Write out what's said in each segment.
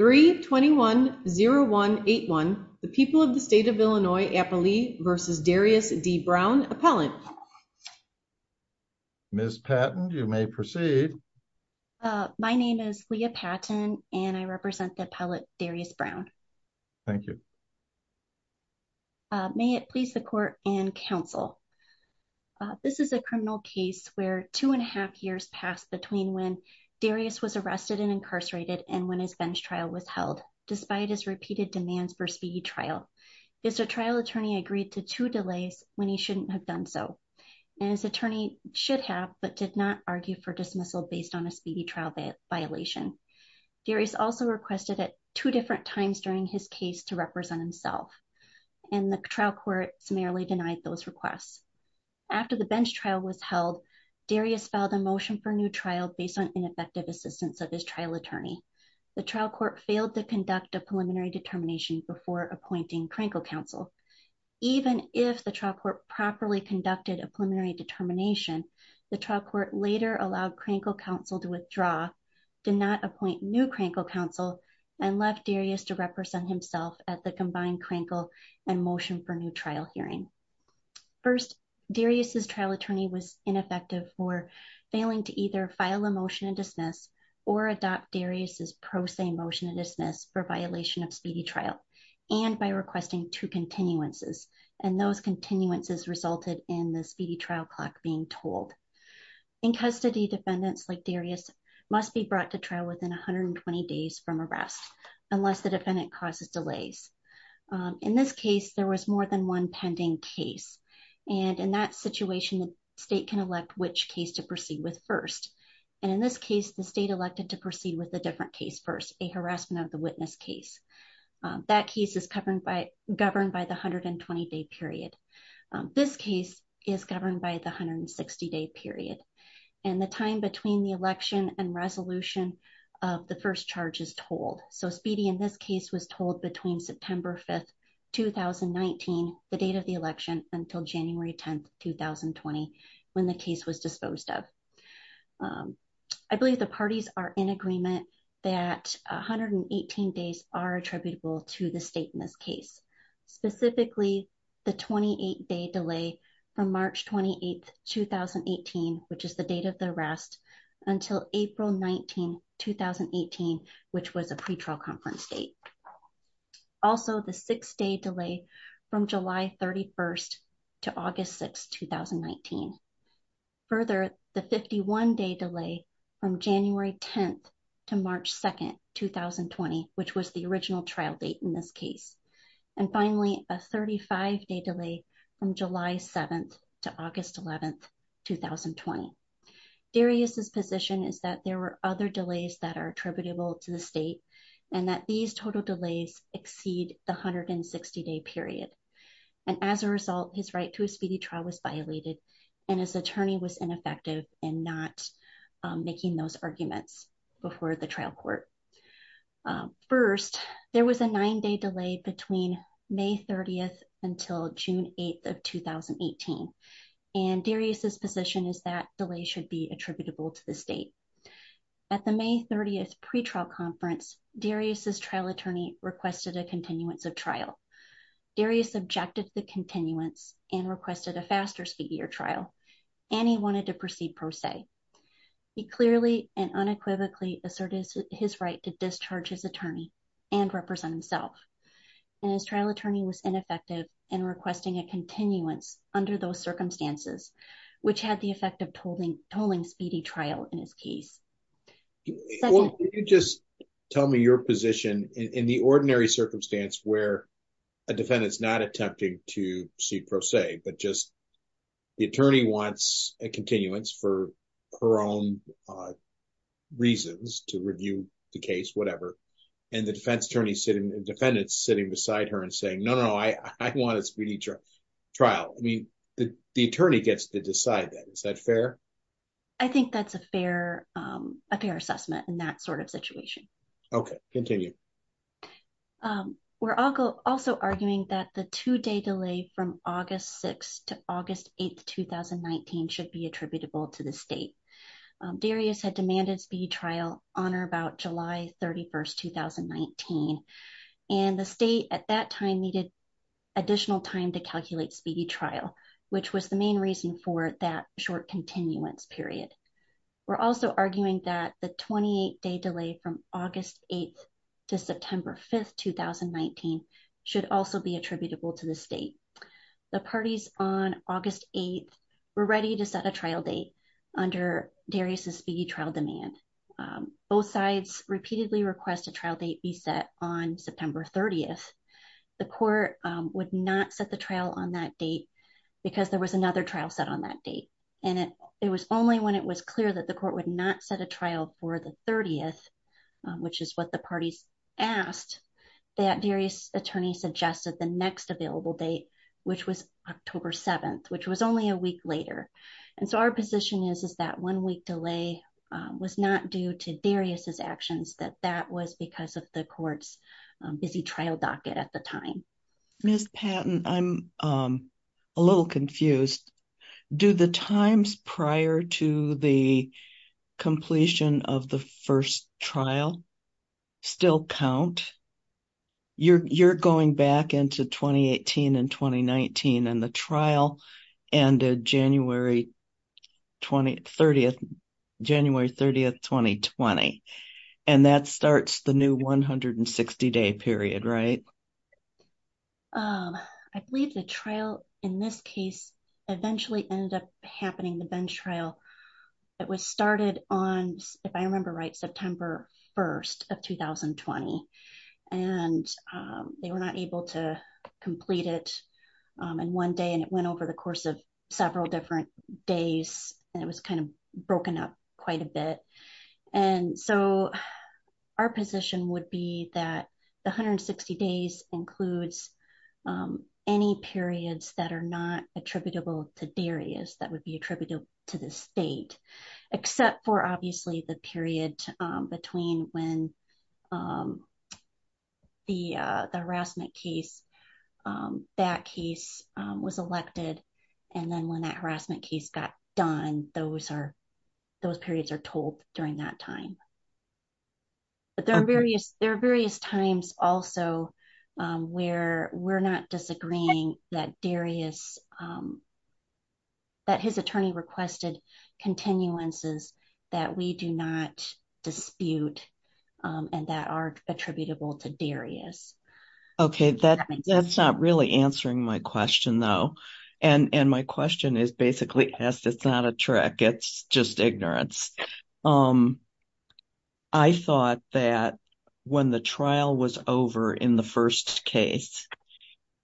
3-2-1-0-1-8-1 The People of the State of Illinois, Appalee v. Darius D. Brown, Appellant Ms. Patton you may proceed. My name is Leah Patton and I represent the Appellant Darius Brown. Thank you. May it please the court and counsel. This is a criminal case where two and a half years passed between when Darius was arrested and incarcerated and when his bench trial was held despite his repeated demands for speedy trial. His trial attorney agreed to two delays when he shouldn't have done so and his attorney should have but did not argue for dismissal based on a speedy trial violation. Darius also requested at two different times during his case to represent himself and the trial court summarily denied those requests. After the bench trial was held Darius filed a motion for new trial based on ineffective assistance of his trial attorney. The trial court failed to conduct a preliminary determination before appointing Krankle counsel. Even if the trial court properly conducted a preliminary determination the trial court later allowed Krankle counsel to withdraw, did not appoint new Krankle counsel and left Darius to represent himself at the combined Krankle and motion for new trial hearing. First Darius's trial attorney was ineffective for failing to either file a motion and dismiss or adopt Darius's pro se motion and dismiss for violation of speedy trial and by requesting two continuances and those continuances resulted in the speedy trial clock being told. In custody defendants like Darius must be brought to trial within 120 days from arrest unless the defendant causes delays. In this case there was more than one pending case and in that situation the state can elect which case to proceed with first and in this case the state elected to proceed with a different case first a harassment of the witness case. That case is governed by governed by the 120 day period. This case is governed by the 160 day period and the time between the election and resolution of the first charge is told. So speedy in this case was told between September 5th 2019 the date of the election until January 10th 2020 when the case was disposed of. I believe the parties are in agreement that 118 days are attributable to the state in this case specifically the 28 day delay from March 28th 2018 which is the date of the arrest until April 19 2018 which was a pretrial conference date. Also the six day delay from July 31st to August 6th 2019. Further the 51 day delay from January 10th to March 2nd 2020 which was the a 35 day delay from July 7th to August 11th 2020. Darius's position is that there were other delays that are attributable to the state and that these total delays exceed the 160 day period and as a result his right to a speedy trial was violated and his attorney was ineffective in not making those arguments before the trial court. First there was a nine day delay between May 30th until June 8th of 2018 and Darius's position is that delay should be attributable to the state. At the May 30th pretrial conference Darius's trial attorney requested a continuance of trial. Darius objected to the continuance and requested a faster speedier trial and he wanted to proceed pro se. He clearly and unequivocally asserted his right to discharge his attorney and represent himself and his trial attorney was ineffective in requesting a continuance under those circumstances which had the effect of tolling speeding trial in his case. Could you just tell me your position in the ordinary circumstance where a defendant's not her own reasons to review the case whatever and the defense attorney sitting the defendant's sitting beside her and saying no no I want a speedy trial. I mean the attorney gets to decide that. Is that fair? I think that's a fair assessment in that sort of situation. Okay continue. We're also arguing that the two day delay from August 6th to August 8th 2019 should be attributable to the state. Darius had demanded speed trial on or about July 31st 2019 and the state at that time needed additional time to calculate speedy trial which was the main reason for that short continuance period. We're also arguing that the 28 day delay from August 8th to September 5th 2019 should also be attributable to the state. The parties on August 8th were ready to set a trial date under Darius's speedy trial demand. Both sides repeatedly request a trial date be set on September 30th. The court would not set the trial on that date because there was another trial set on that date and it it was only when it was clear that the court would not set a trial for the 30th which is what the parties asked that Darius's attorney suggested the next available date which was October 7th which was only a week later and so our position is is that one week delay was not due to Darius's actions that that was because of the court's busy trial docket at the time. Ms. Patton I'm a little confused. Do the times prior to the completion of the first trial still count? You're going back into 2018 and 2019 and the trial ended January 30th 2020 and that starts the new 160 day period right? I believe the trial in this case eventually ended happening the bench trial it was started on if I remember right September 1st of 2020 and they were not able to complete it in one day and it went over the course of several different days and it was kind of broken up quite a bit and so our position would be that the 160 days includes any periods that are not attributable to Darius that would be attributable to the state except for obviously the period between when the the harassment case that case was elected and then when that harassment case got done those are those periods are told during that time but there are various there are various times also where we're not disagreeing that Darius that his attorney requested continuances that we do not dispute and that are attributable to Darius okay that that's not really answering my question though and and my question is basically asked it's not a trick it's just ignorance I thought that when the trial was over in the first case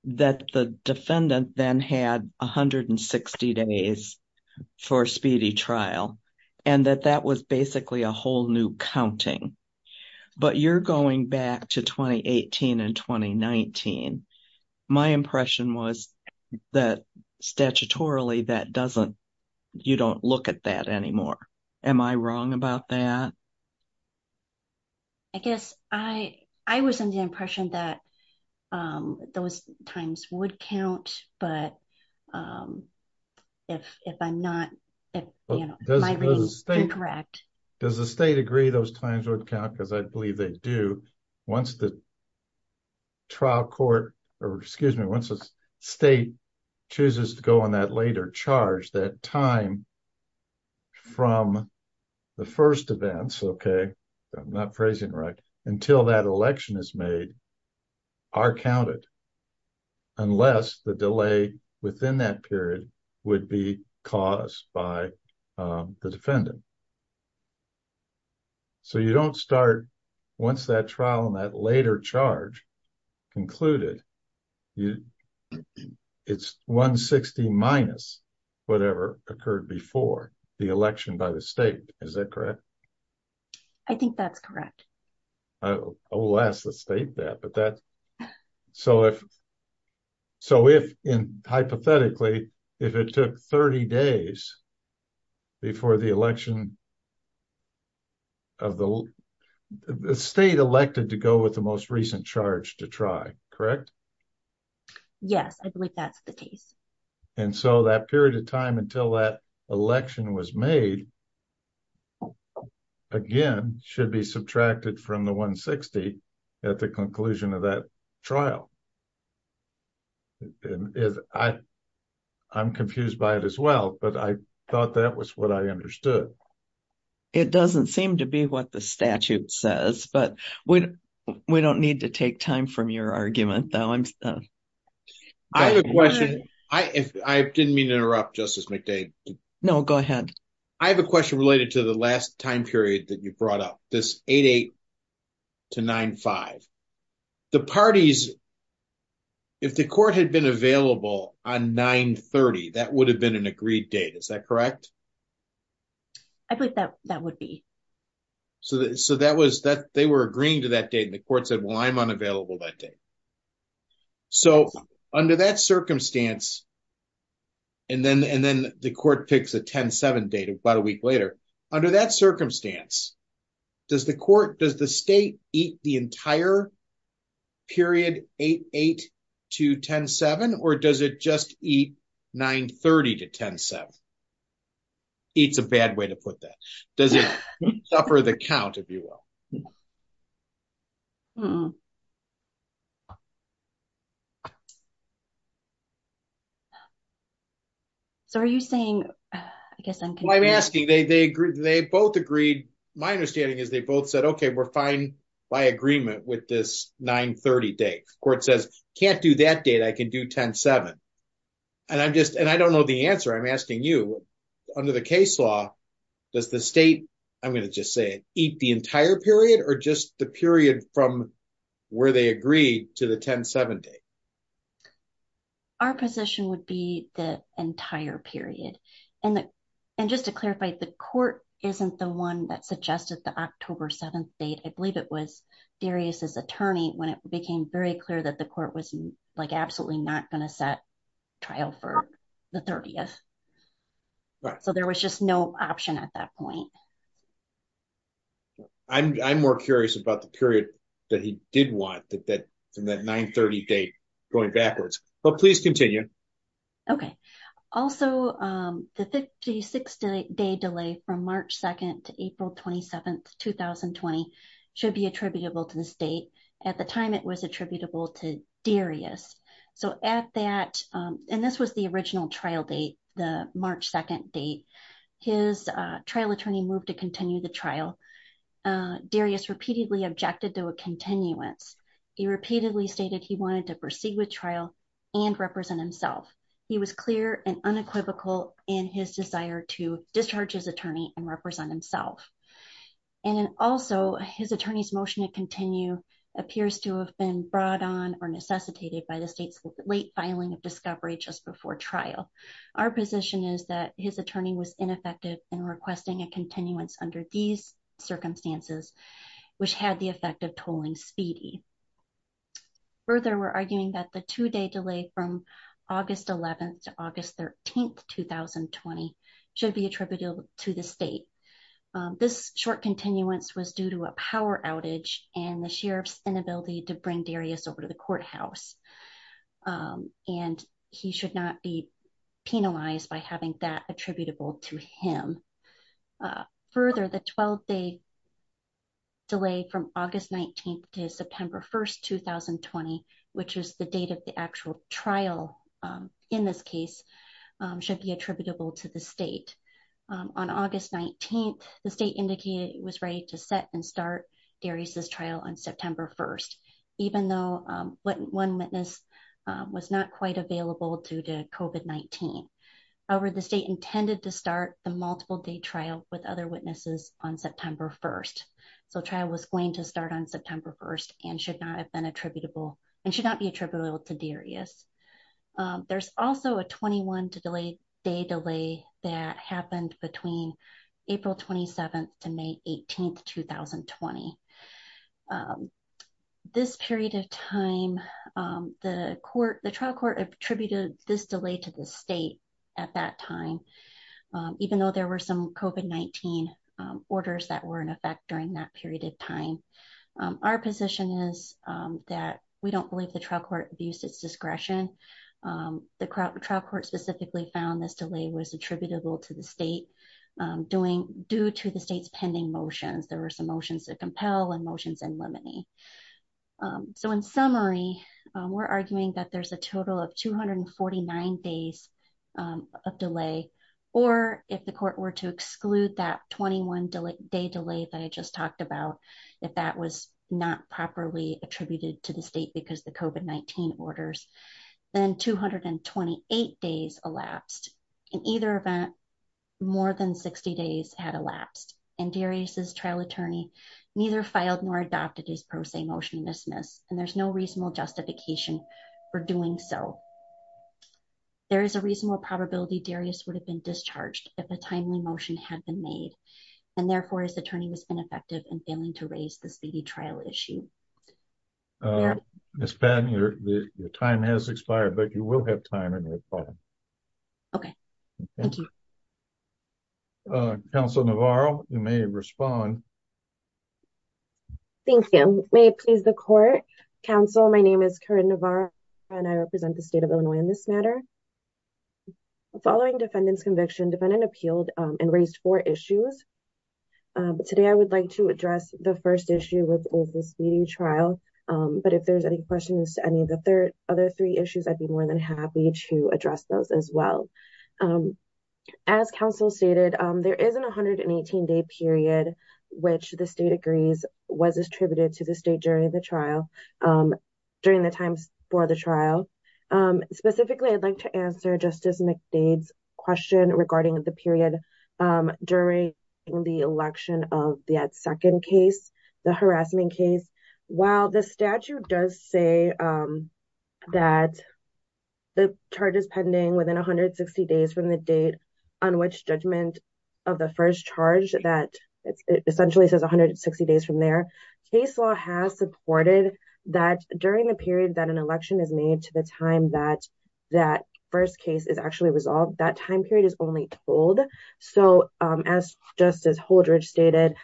that the defendant then had 160 days for speedy trial and that that was basically a whole new counting but you're going back to 2018 and 2019 my impression was that statutorily that doesn't you don't look at that anymore am I wrong about that I guess I I was in the impression that um those times would count but um if if I'm not you know incorrect does the state agree those times would count because I believe they do once the trial court or excuse me once the state chooses to go on that later charge that time from the first events okay I'm not phrasing right until that election is made are counted unless the delay within that period would be caused by the defendant so you don't start once that trial on that later charge concluded you it's 160 minus whatever occurred before the election by the state is that correct I think that's correct I will ask the state that but that so if so if in hypothetically if it took 30 days before the election of the state elected to go with the most recent charge to try correct yes I believe that's the case and so that period of time until that election was made again should be subtracted from the 160 at the conclusion of that trial and if I I'm confused by it as well but I thought that was what I understood it doesn't seem to be what the statute says but we we don't need to take time from your argument though I'm I have a question I if I didn't mean to interrupt justice McDade no go ahead I have a question related to the last time period that you brought up this 8 8 to 9 5 the parties if the court had been available on 9 30 that would have been an agreed date is that correct I believe that that would be so that so that was that they were agreeing to that date the court said well I'm unavailable that day so under that circumstance and then and then the court picks a 10 7 date about a week later under that circumstance does the court does the state eat the entire period 8 8 to 10 7 or does it just eat 9 30 to 10 7 it's a bad way to put that does it suffer the count if you will so are you saying I guess I'm I'm asking they they both agreed my understanding is they both said okay we're fine by agreement with this 9 30 day court says can't do that date I can do 10 7 and I'm just and I don't know the answer I'm asking you under the case law does the state I'm going to just say it eat the entire period or just the period from where they agreed to the 10 7 day our position would be the entire period and and just to clarify the court isn't the one that suggested the October 7th date I believe it was Darius's attorney when it became very clear that the court was like absolutely not going to set trial for the 30th so there was just no option at that point I'm I'm more curious about the period that he did want that that from that 9 30 date going backwards but please continue okay also the 56 day delay from March 2nd to April 27th 2020 should be attributable to the state at the time it was attributable to Darius so at that and this was the original trial date the March 2nd date his trial attorney moved to continue the trial Darius repeatedly objected to a continuance he repeatedly stated he wanted to proceed with trial and represent himself he was clear and unequivocal in his desire to discharge his attorney and represent himself and also his attorney's motion to continue appears to have been brought on or necessitated by the state's late filing of discovery just before trial our position is that his attorney was ineffective in requesting a continuance under these circumstances which had the effect of August 13th 2020 should be attributable to the state this short continuance was due to a power outage and the sheriff's inability to bring Darius over to the courthouse and he should not be penalized by having that attributable to him further the 12 day delay from August 19th to September 1st 2020 which is the date of the actual trial in this case should be attributable to the state on August 19th the state indicated it was ready to set and start Darius's trial on September 1st even though one witness was not quite available due to COVID-19 however the state intended to start the multiple day trial with other witnesses on September 1st so trial was going to start on September 1st and should not have been attributable and should not be attributable to Darius there's also a 21 to delay day delay that happened between April 27th to May 18th 2020 this period of time the court the trial court attributed this delay to the state at that time even though there were some COVID-19 orders that were in effect during that period of time our position is that we don't believe the trial court abused its discretion the trial court specifically found this delay was attributable to the state doing due to the state's pending motions there were some motions that compel and motions in so in summary we're arguing that there's a total of 249 days of delay or if the court were to exclude that 21 day delay that I just talked about if that was not properly attributed to the state because the COVID-19 orders then 228 days elapsed in either event more than 60 days had elapsed and Darius's trial attorney neither filed nor adopted his pro se motion to dismiss and there's no reasonable justification for doing so there is a reasonable probability Darius would have been discharged if a timely motion had been made and therefore his attorney was ineffective and failing to raise the speedy trial issue. Miss Patton your time has expired but you will have time to respond. Okay. Thank you. Councilor Navarro you may respond. Thank you. May it please the court. Council my name is Corinne Navarro and I represent the state of Illinois in this matter. Following defendant's conviction defendant appealed and raised four issues. Today I would like to address the first issue with the speeding trial but if there's any questions to any of the third other three issues I'd be more than happy to address those as well. As council stated there is an 118 day period which the state agrees was attributed to the state during the trial during the times for the trial. Specifically I'd like to answer Justice McDade's question regarding the period during the election of the second case the harassment case. While the state does say that the charge is pending within 160 days from the date on which judgment of the first charge that it essentially says 160 days from there case law has supported that during the period that an election is made to the time that that first case is actually resolved that time period is only told. So as Justice Holdridge stated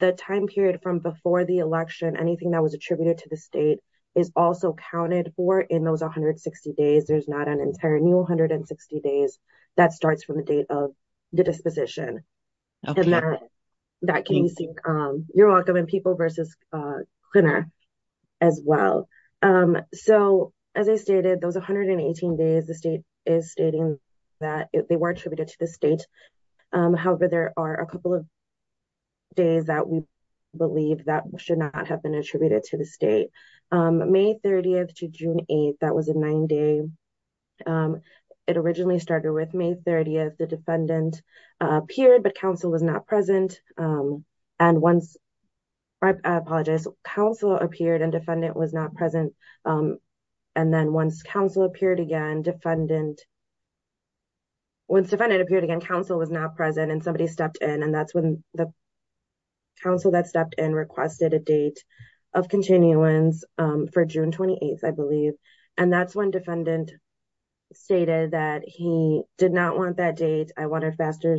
the time period from before the election anything that was attributed to the state is also counted for in those 160 days. There's not an entire new 160 days that starts from the date of the disposition and that can be seen you're welcome in people versus cleaner as well. So as I stated those 118 days the state is stating that they were attributed to the state however there are a couple of days that we believe that should not have been attributed to the state. May 30th to June 8th that was a nine day it originally started with May 30th the defendant appeared but counsel was not present and once I apologize counsel appeared and defendant was not present and then once counsel appeared again defendant once defendant appeared again counsel was not present and somebody stepped in and that's when the counsel that stepped in requested a date of continuance for June 28th I believe and that's when defendant stated that he did not want that date I want a faster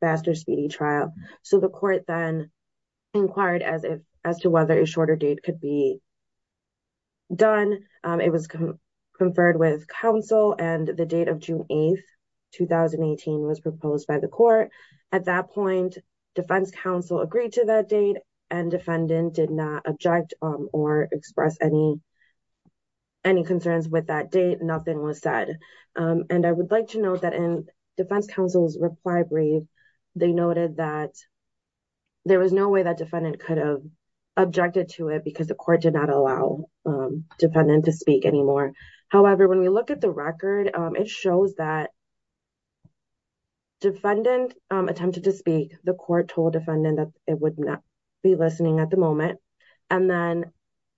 faster speedy trial so the court then inquired as if as to whether a shorter date could be done. It was conferred with counsel and the date of June 8th 2018 was proposed by the court at that point defense counsel agreed to that date and defendant did not object or express any any concerns with that date nothing was said and I would like to note that in defense counsel's reply brief they noted that there was no way that defendant could have objected to it because the court did not allow defendant to speak anymore however when we look at the record it shows that defendant attempted to speak the court told defendant that it would not be listening at the moment and then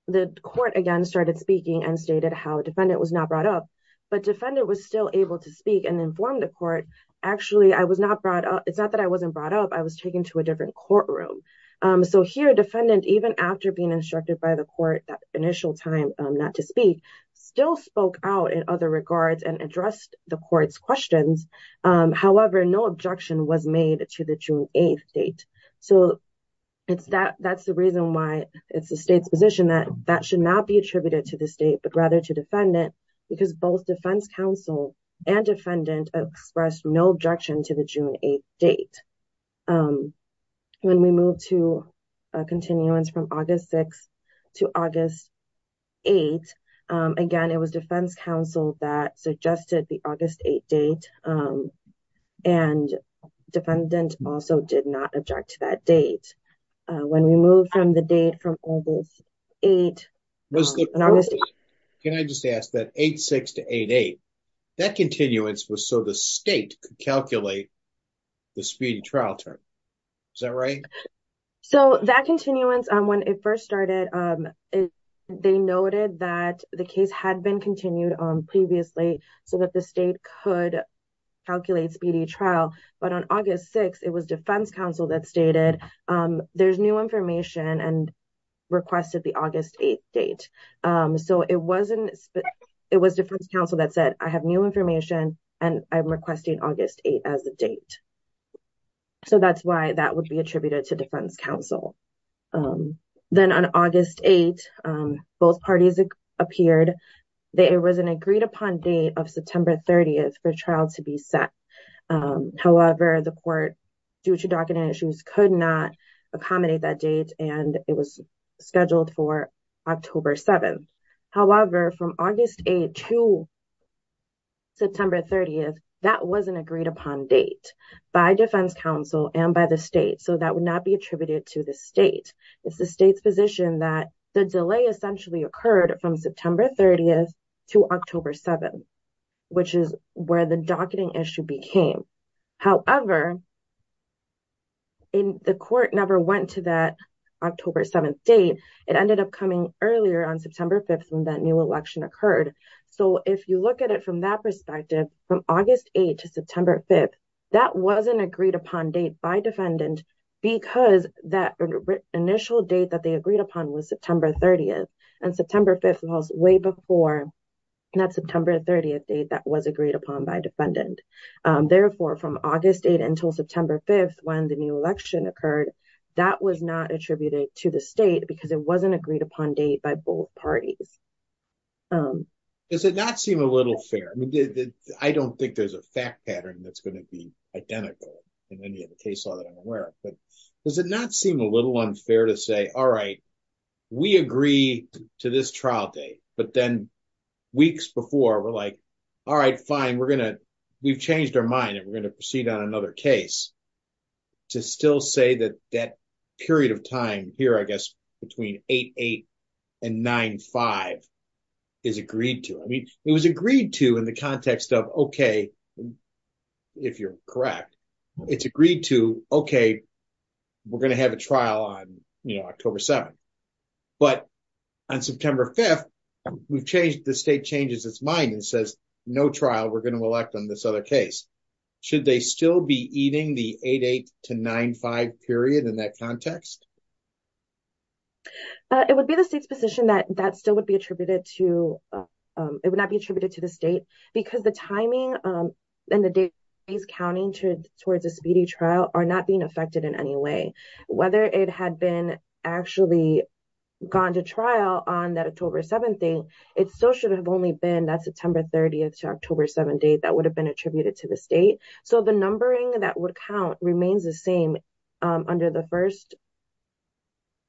the court again started speaking and stated how a defendant was not brought up but defendant was still able to speak and inform the court actually I was not brought up it's not that I wasn't brought up I was taken to a different courtroom so here defendant even after being instructed by the court that initial time not to speak still spoke out in other regards and addressed the court's questions however no objection was made to the June 8th date so it's that that's the reason why it's the state's position that that should not be attributed to the state but rather to defendant because both defense counsel and defendant expressed no objection to the June 8th date when we move to a continuance from August 6th to August 8th again it was defense counsel that suggested the August 8th date and defendant also did not object to that date when we move from the date from August 8th can I just ask that 8-6 to 8-8 that continuance was so the state could calculate the speedy trial term is that right so that case had been continued on previously so that the state could calculate speedy trial but on August 6th it was defense counsel that stated there's new information and requested the August 8th date so it wasn't it was defense counsel that said I have new information and I'm requesting August 8th as the date so that's why that would be attributed to defense counsel then on August 8th both parties appeared that it was an agreed upon date of September 30th for trial to be set however the court due to docketing issues could not accommodate that date and it was scheduled for October 7th however from August 8th to September 30th that was an agreed upon date by defense counsel and by the state so that would not be attributed to the state it's the state's position that the delay essentially occurred from September 30th to October 7th which is where the docketing issue became however in the court never went to that October 7th date it ended up coming earlier on September 5th when that new election occurred so if you look at it from that perspective from August 8th to September 5th that wasn't agreed upon date by defendant because that initial date that they agreed upon was September 30th and September 5th was way before that September 30th date that was agreed upon by defendant therefore from August 8th until September 5th when the new election occurred that was not attributed to the state because it wasn't agreed upon date by both parties um does it not seem a little fair i mean i don't think there's a fact pattern that's going to be identical in any other case law that i'm aware of but does it not seem a little unfair to say all right we agree to this trial date but then weeks before we're like all right fine we're gonna we've changed our mind and we're gonna proceed on another case to still say that that period of time here i guess between 8-8 and 9-5 is agreed to i mean it was agreed to in the context of okay if you're correct it's agreed to okay we're gonna have a trial on you know October 7th but on September 5th we've changed the state changes its mind and says no trial we're going to elect on this other case should they still be eating the 8-8 to 9-5 period in that context uh it would be the state's position that that still would be attributed to um it would not be attributed to the state because the timing um and the date he's counting to towards a speedy trial are not being affected in any way whether it had been actually gone to trial on that October 7th thing it still should have only been that September 30th to October 7th date that would have been attributed to the state so the numbering that would count remains the same under the first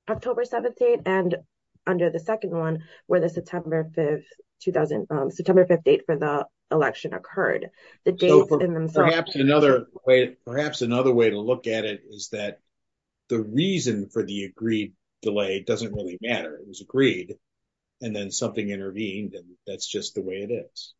October 17th and under the second one where the September 5th 2000 September 5th date for the election occurred the dates in themselves perhaps another way perhaps another way to look at it is that the reason for the agreed delay doesn't really matter it was agreed and then something intervened and that's just the way it is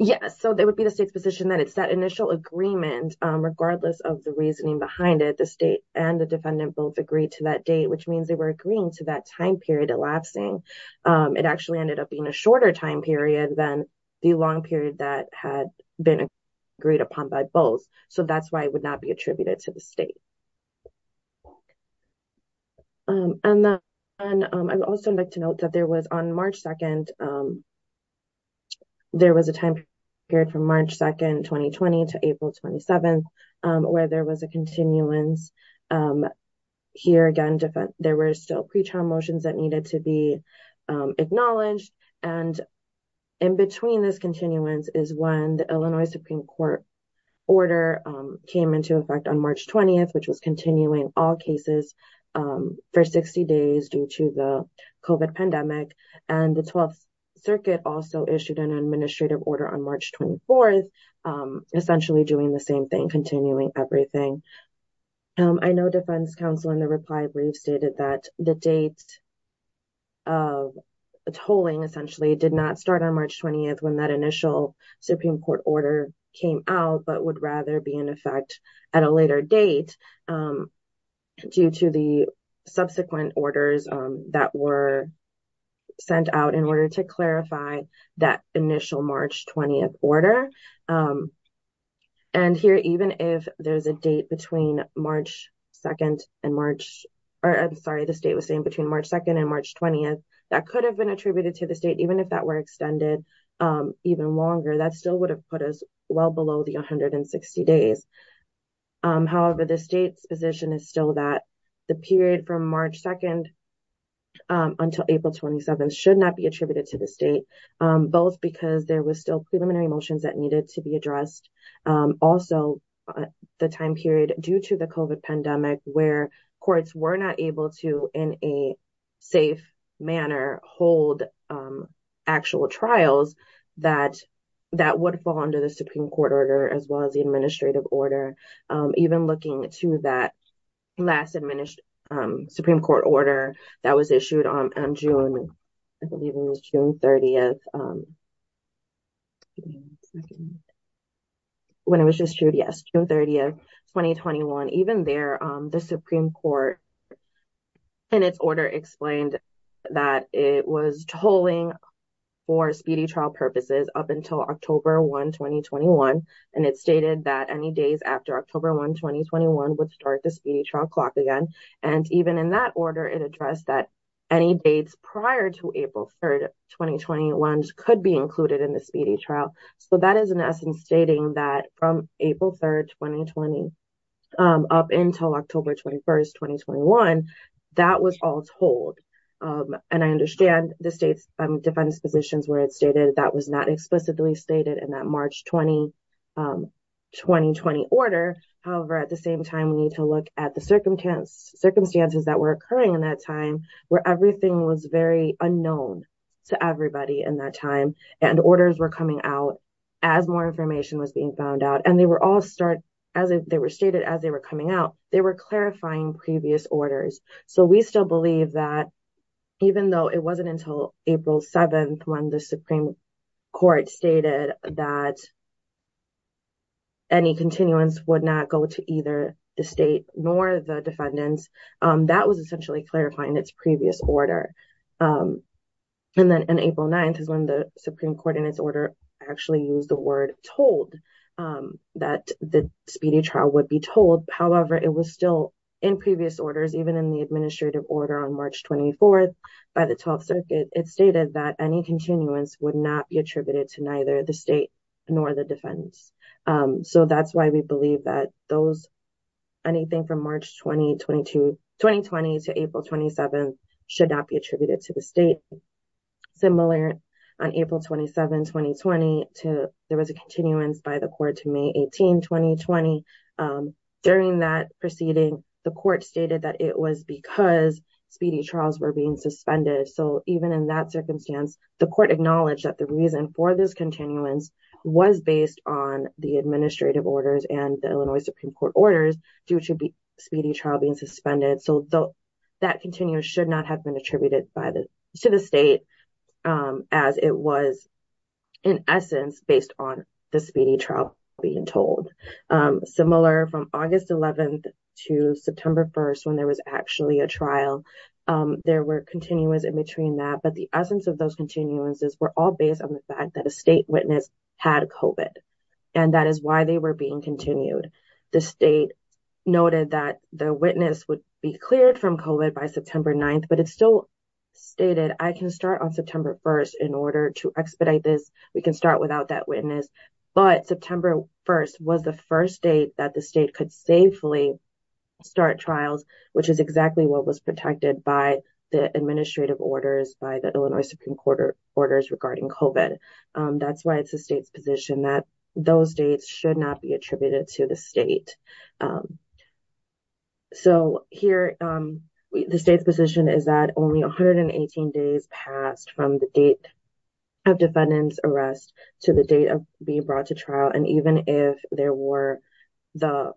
yes so there would be the state's that it's that initial agreement um regardless of the reasoning behind it the state and the defendant both agreed to that date which means they were agreeing to that time period elapsing it actually ended up being a shorter time period than the long period that had been agreed upon by both so that's why it would not be attributed to the state um and then um i'd also like to note that there was on March 2nd um was a time period from March 2nd 2020 to April 27th um where there was a continuance um here again different there were still pre-trial motions that needed to be um acknowledged and in between this continuance is when the Illinois Supreme Court order um came into effect on March 20th which was continuing all cases um for 60 days due to the COVID pandemic and the 12th also issued an administrative order on March 24th um essentially doing the same thing continuing everything um I know defense counsel in the reply brief stated that the date of tolling essentially did not start on March 20th when that initial Supreme Court order came out but would rather be in effect at a later date um due to the subsequent orders um that were sent out in to clarify that initial March 20th order um and here even if there's a date between March 2nd and March or I'm sorry the state was saying between March 2nd and March 20th that could have been attributed to the state even if that were extended um even longer that still would have put us well below the 160 days um however the state's position is still that the period from March 2nd until April 27th should not be attributed to the state um both because there was still preliminary motions that needed to be addressed um also the time period due to the COVID pandemic where courts were not able to in a safe manner hold actual trials that that would fall under the Supreme Court order as well as the administrative order um even looking to that last administered um Supreme Court order that was issued on on June I believe it was June 30th when it was just true yes June 30th 2021 even there um the Supreme Court in its order explained that it was tolling for speedy trial purposes up until October 1 2021 and it stated that any days after October 1 2021 would start the speedy trial clock again and even in that order it addressed that any dates prior to April 3rd 2021 could be included in the speedy trial so that is in essence stating that from April 3rd 2020 um up until October 21st 2021 that was all told and I understand the state's defense positions where it stated that was not explicitly stated in that March 20 um 2020 order however at the same time we need to look at the circumstance circumstances that were occurring in that time where everything was very unknown to everybody in that time and orders were coming out as more information was being found out and they were all start as they were stated as they were coming out they were clarifying previous orders so we still that even though it wasn't until April 7th when the Supreme Court stated that any continuance would not go to either the state nor the defendants um that was essentially clarifying its previous order um and then on April 9th is when the Supreme Court in its order actually used the word told um that the speedy trial would be told however it was still in administrative order on March 24th by the 12th circuit it stated that any continuance would not be attributed to neither the state nor the defense um so that's why we believe that those anything from March 2022 2020 to April 27th should not be attributed to the state similar on April 27 2020 to there was a continuance by the court to May 18 2020 um during that proceeding the court stated that it was because speedy trials were being suspended so even in that circumstance the court acknowledged that the reason for this continuance was based on the administrative orders and the Illinois Supreme Court orders due to be speedy trial being suspended so though that continues should not have been attributed by the to the state um as it was in essence based on the speedy being told um similar from August 11th to September 1st when there was actually a trial um there were continuance in between that but the essence of those continuances were all based on the fact that a state witness had COVID and that is why they were being continued the state noted that the witness would be cleared from COVID by September 9th but it still stated I can start on September 1st in order to expedite this we can start without that witness but September 1st was the first date that the state could safely start trials which is exactly what was protected by the administrative orders by the Illinois Supreme Court orders regarding COVID um that's why it's the state's position that those dates should not be attributed to the state um so here um the state's position is that only 118 days passed from the date of defendant's arrest to the date of being brought to trial and even if there were the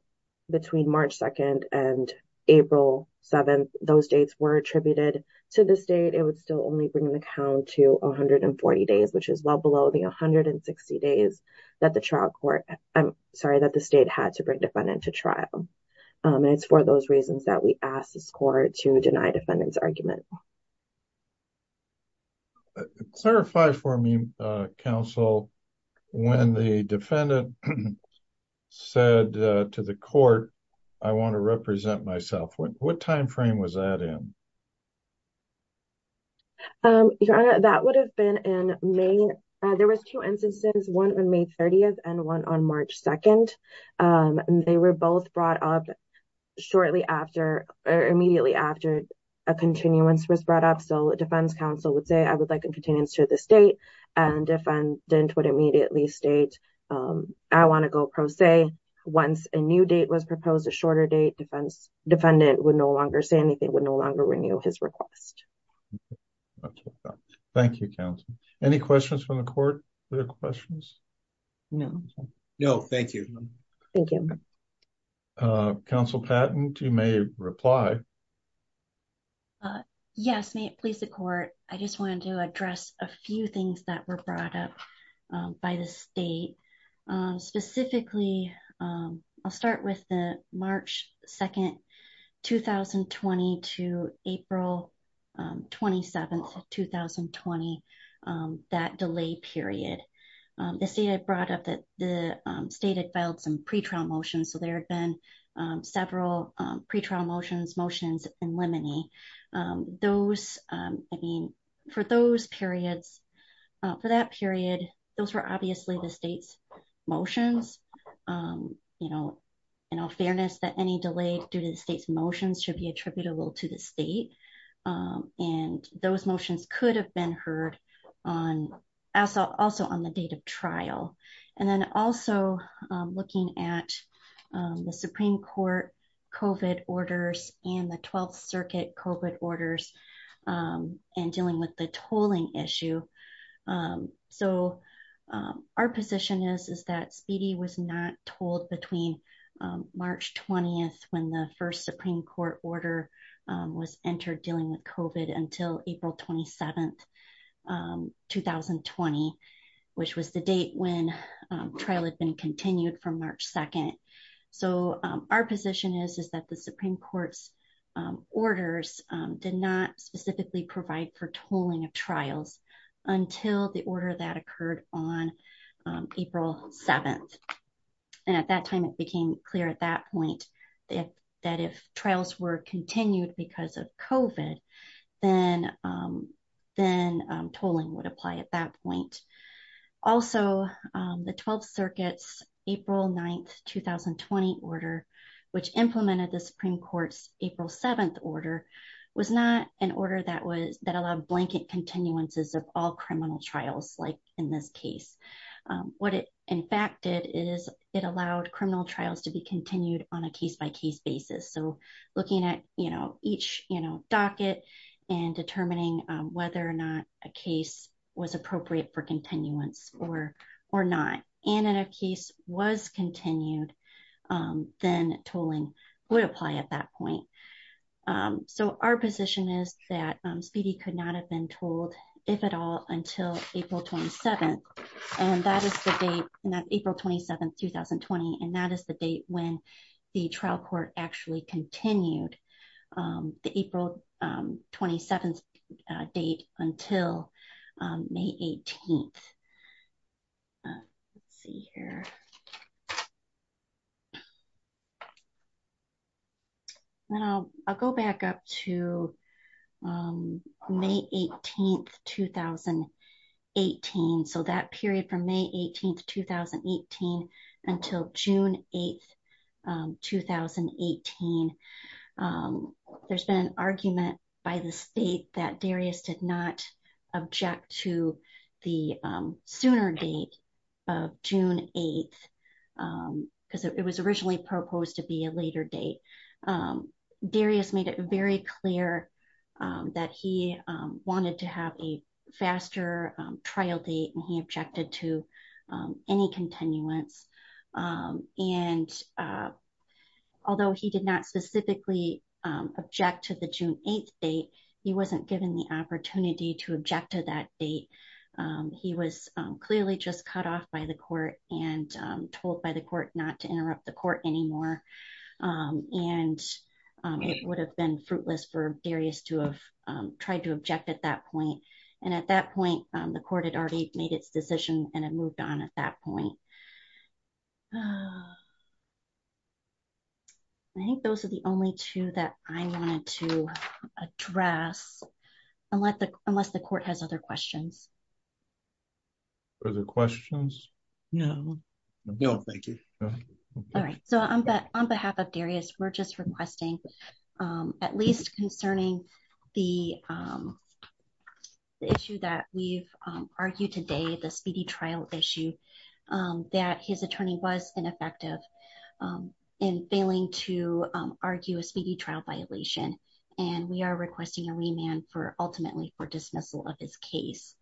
between March 2nd and April 7th those dates were attributed to the state it would still only bring the count to 140 days which is well below the 160 days that the trial court I'm sorry that the state had to bring defendant to trial um and it's for those reasons that we ask this court to deny defendant's argument clarify for me uh counsel when the defendant said to the court I want to represent myself what time frame was that in um your honor that would have been in May there was two instances one on May 30th and one on immediately after a continuance was brought up so defense counsel would say I would like a continuance to this date and defendant would immediately state um I want to go pro se once a new date was proposed a shorter date defense defendant would no longer say anything would no longer renew his request thank you counsel any questions from the court other questions no no thank you thank you uh counsel patent you may reply uh yes may it please the court I just wanted to address a few things that were brought up by the state um specifically um I'll start with the March 2nd 2020 to April 27th 2020 that delay period the state had brought up that the state had filed some pre-trial motions so there had been several pre-trial motions motions in limine those um I mean for those periods for that period those were obviously the state's motions um you know in all fairness that any delay due to the state's motions should be attributable to the state um and those motions could have been heard on also also on the date of trial and then also um looking at the Supreme Court COVID orders and the 12th Circuit COVID orders um and dealing with the tolling issue um so um our position is is that Speedy was not told between um March 20th when the first Supreme Court order was entered dealing with COVID until April 27th 2020 which was the date when trial had been continued from March 2nd so our position is is that the Supreme Court's orders did not specifically provide for tolling of trials until the order that occurred on April 7th and at that time it became clear at that point that that if trials were continued because of COVID then then tolling would apply at that point also the 12th Circuit's April 9th 2020 order which implemented the Supreme Court's April 7th order was not an order that was that blanket continuances of all criminal trials like in this case what it in fact did is it allowed criminal trials to be continued on a case-by-case basis so looking at you know each you know docket and determining whether or not a case was appropriate for continuance or or not and in a if at all until April 27th and that is the date and that's April 27th 2020 and that is the date when the trial court actually continued the April 27th date until May 18th. Let's see here I'll go back up to May 18th 2018 so that period from May 18th 2018 until June 8th 2018 there's been an argument by the state that Darius did not object to the sooner date of June 8th because it was originally proposed to be a later date. Darius made it very clear that he wanted to have a faster trial date and he objected to any continuance and although he did not specifically object to the June 8th date he wasn't given the opportunity to object to that date he was clearly just cut off by the court and told by the court not to interrupt the court anymore and it would have been fruitless for Darius to have tried to object at that point and at that point the court had already made its decision and it moved on at that I think those are the only two that I wanted to address unless the court has other questions other questions no no thank you all right so on behalf of Darius we're just requesting at least concerning the issue that we've argued today the speedy trial issue that his attorney was ineffective in failing to argue a speedy trial violation and we are requesting a remand for ultimately for dismissal of his case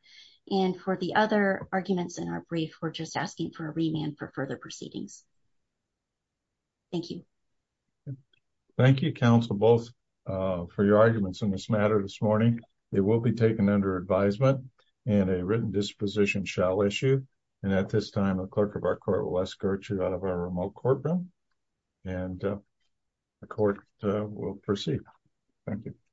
and for the other arguments in our brief we're just asking for a remand for further proceedings thank you thank you counsel both for your arguments in this matter this morning it will be taken under advisement and a written disposition shall issue and at this time the clerk of our court will escort you out of our remote courtroom and the court will proceed thank you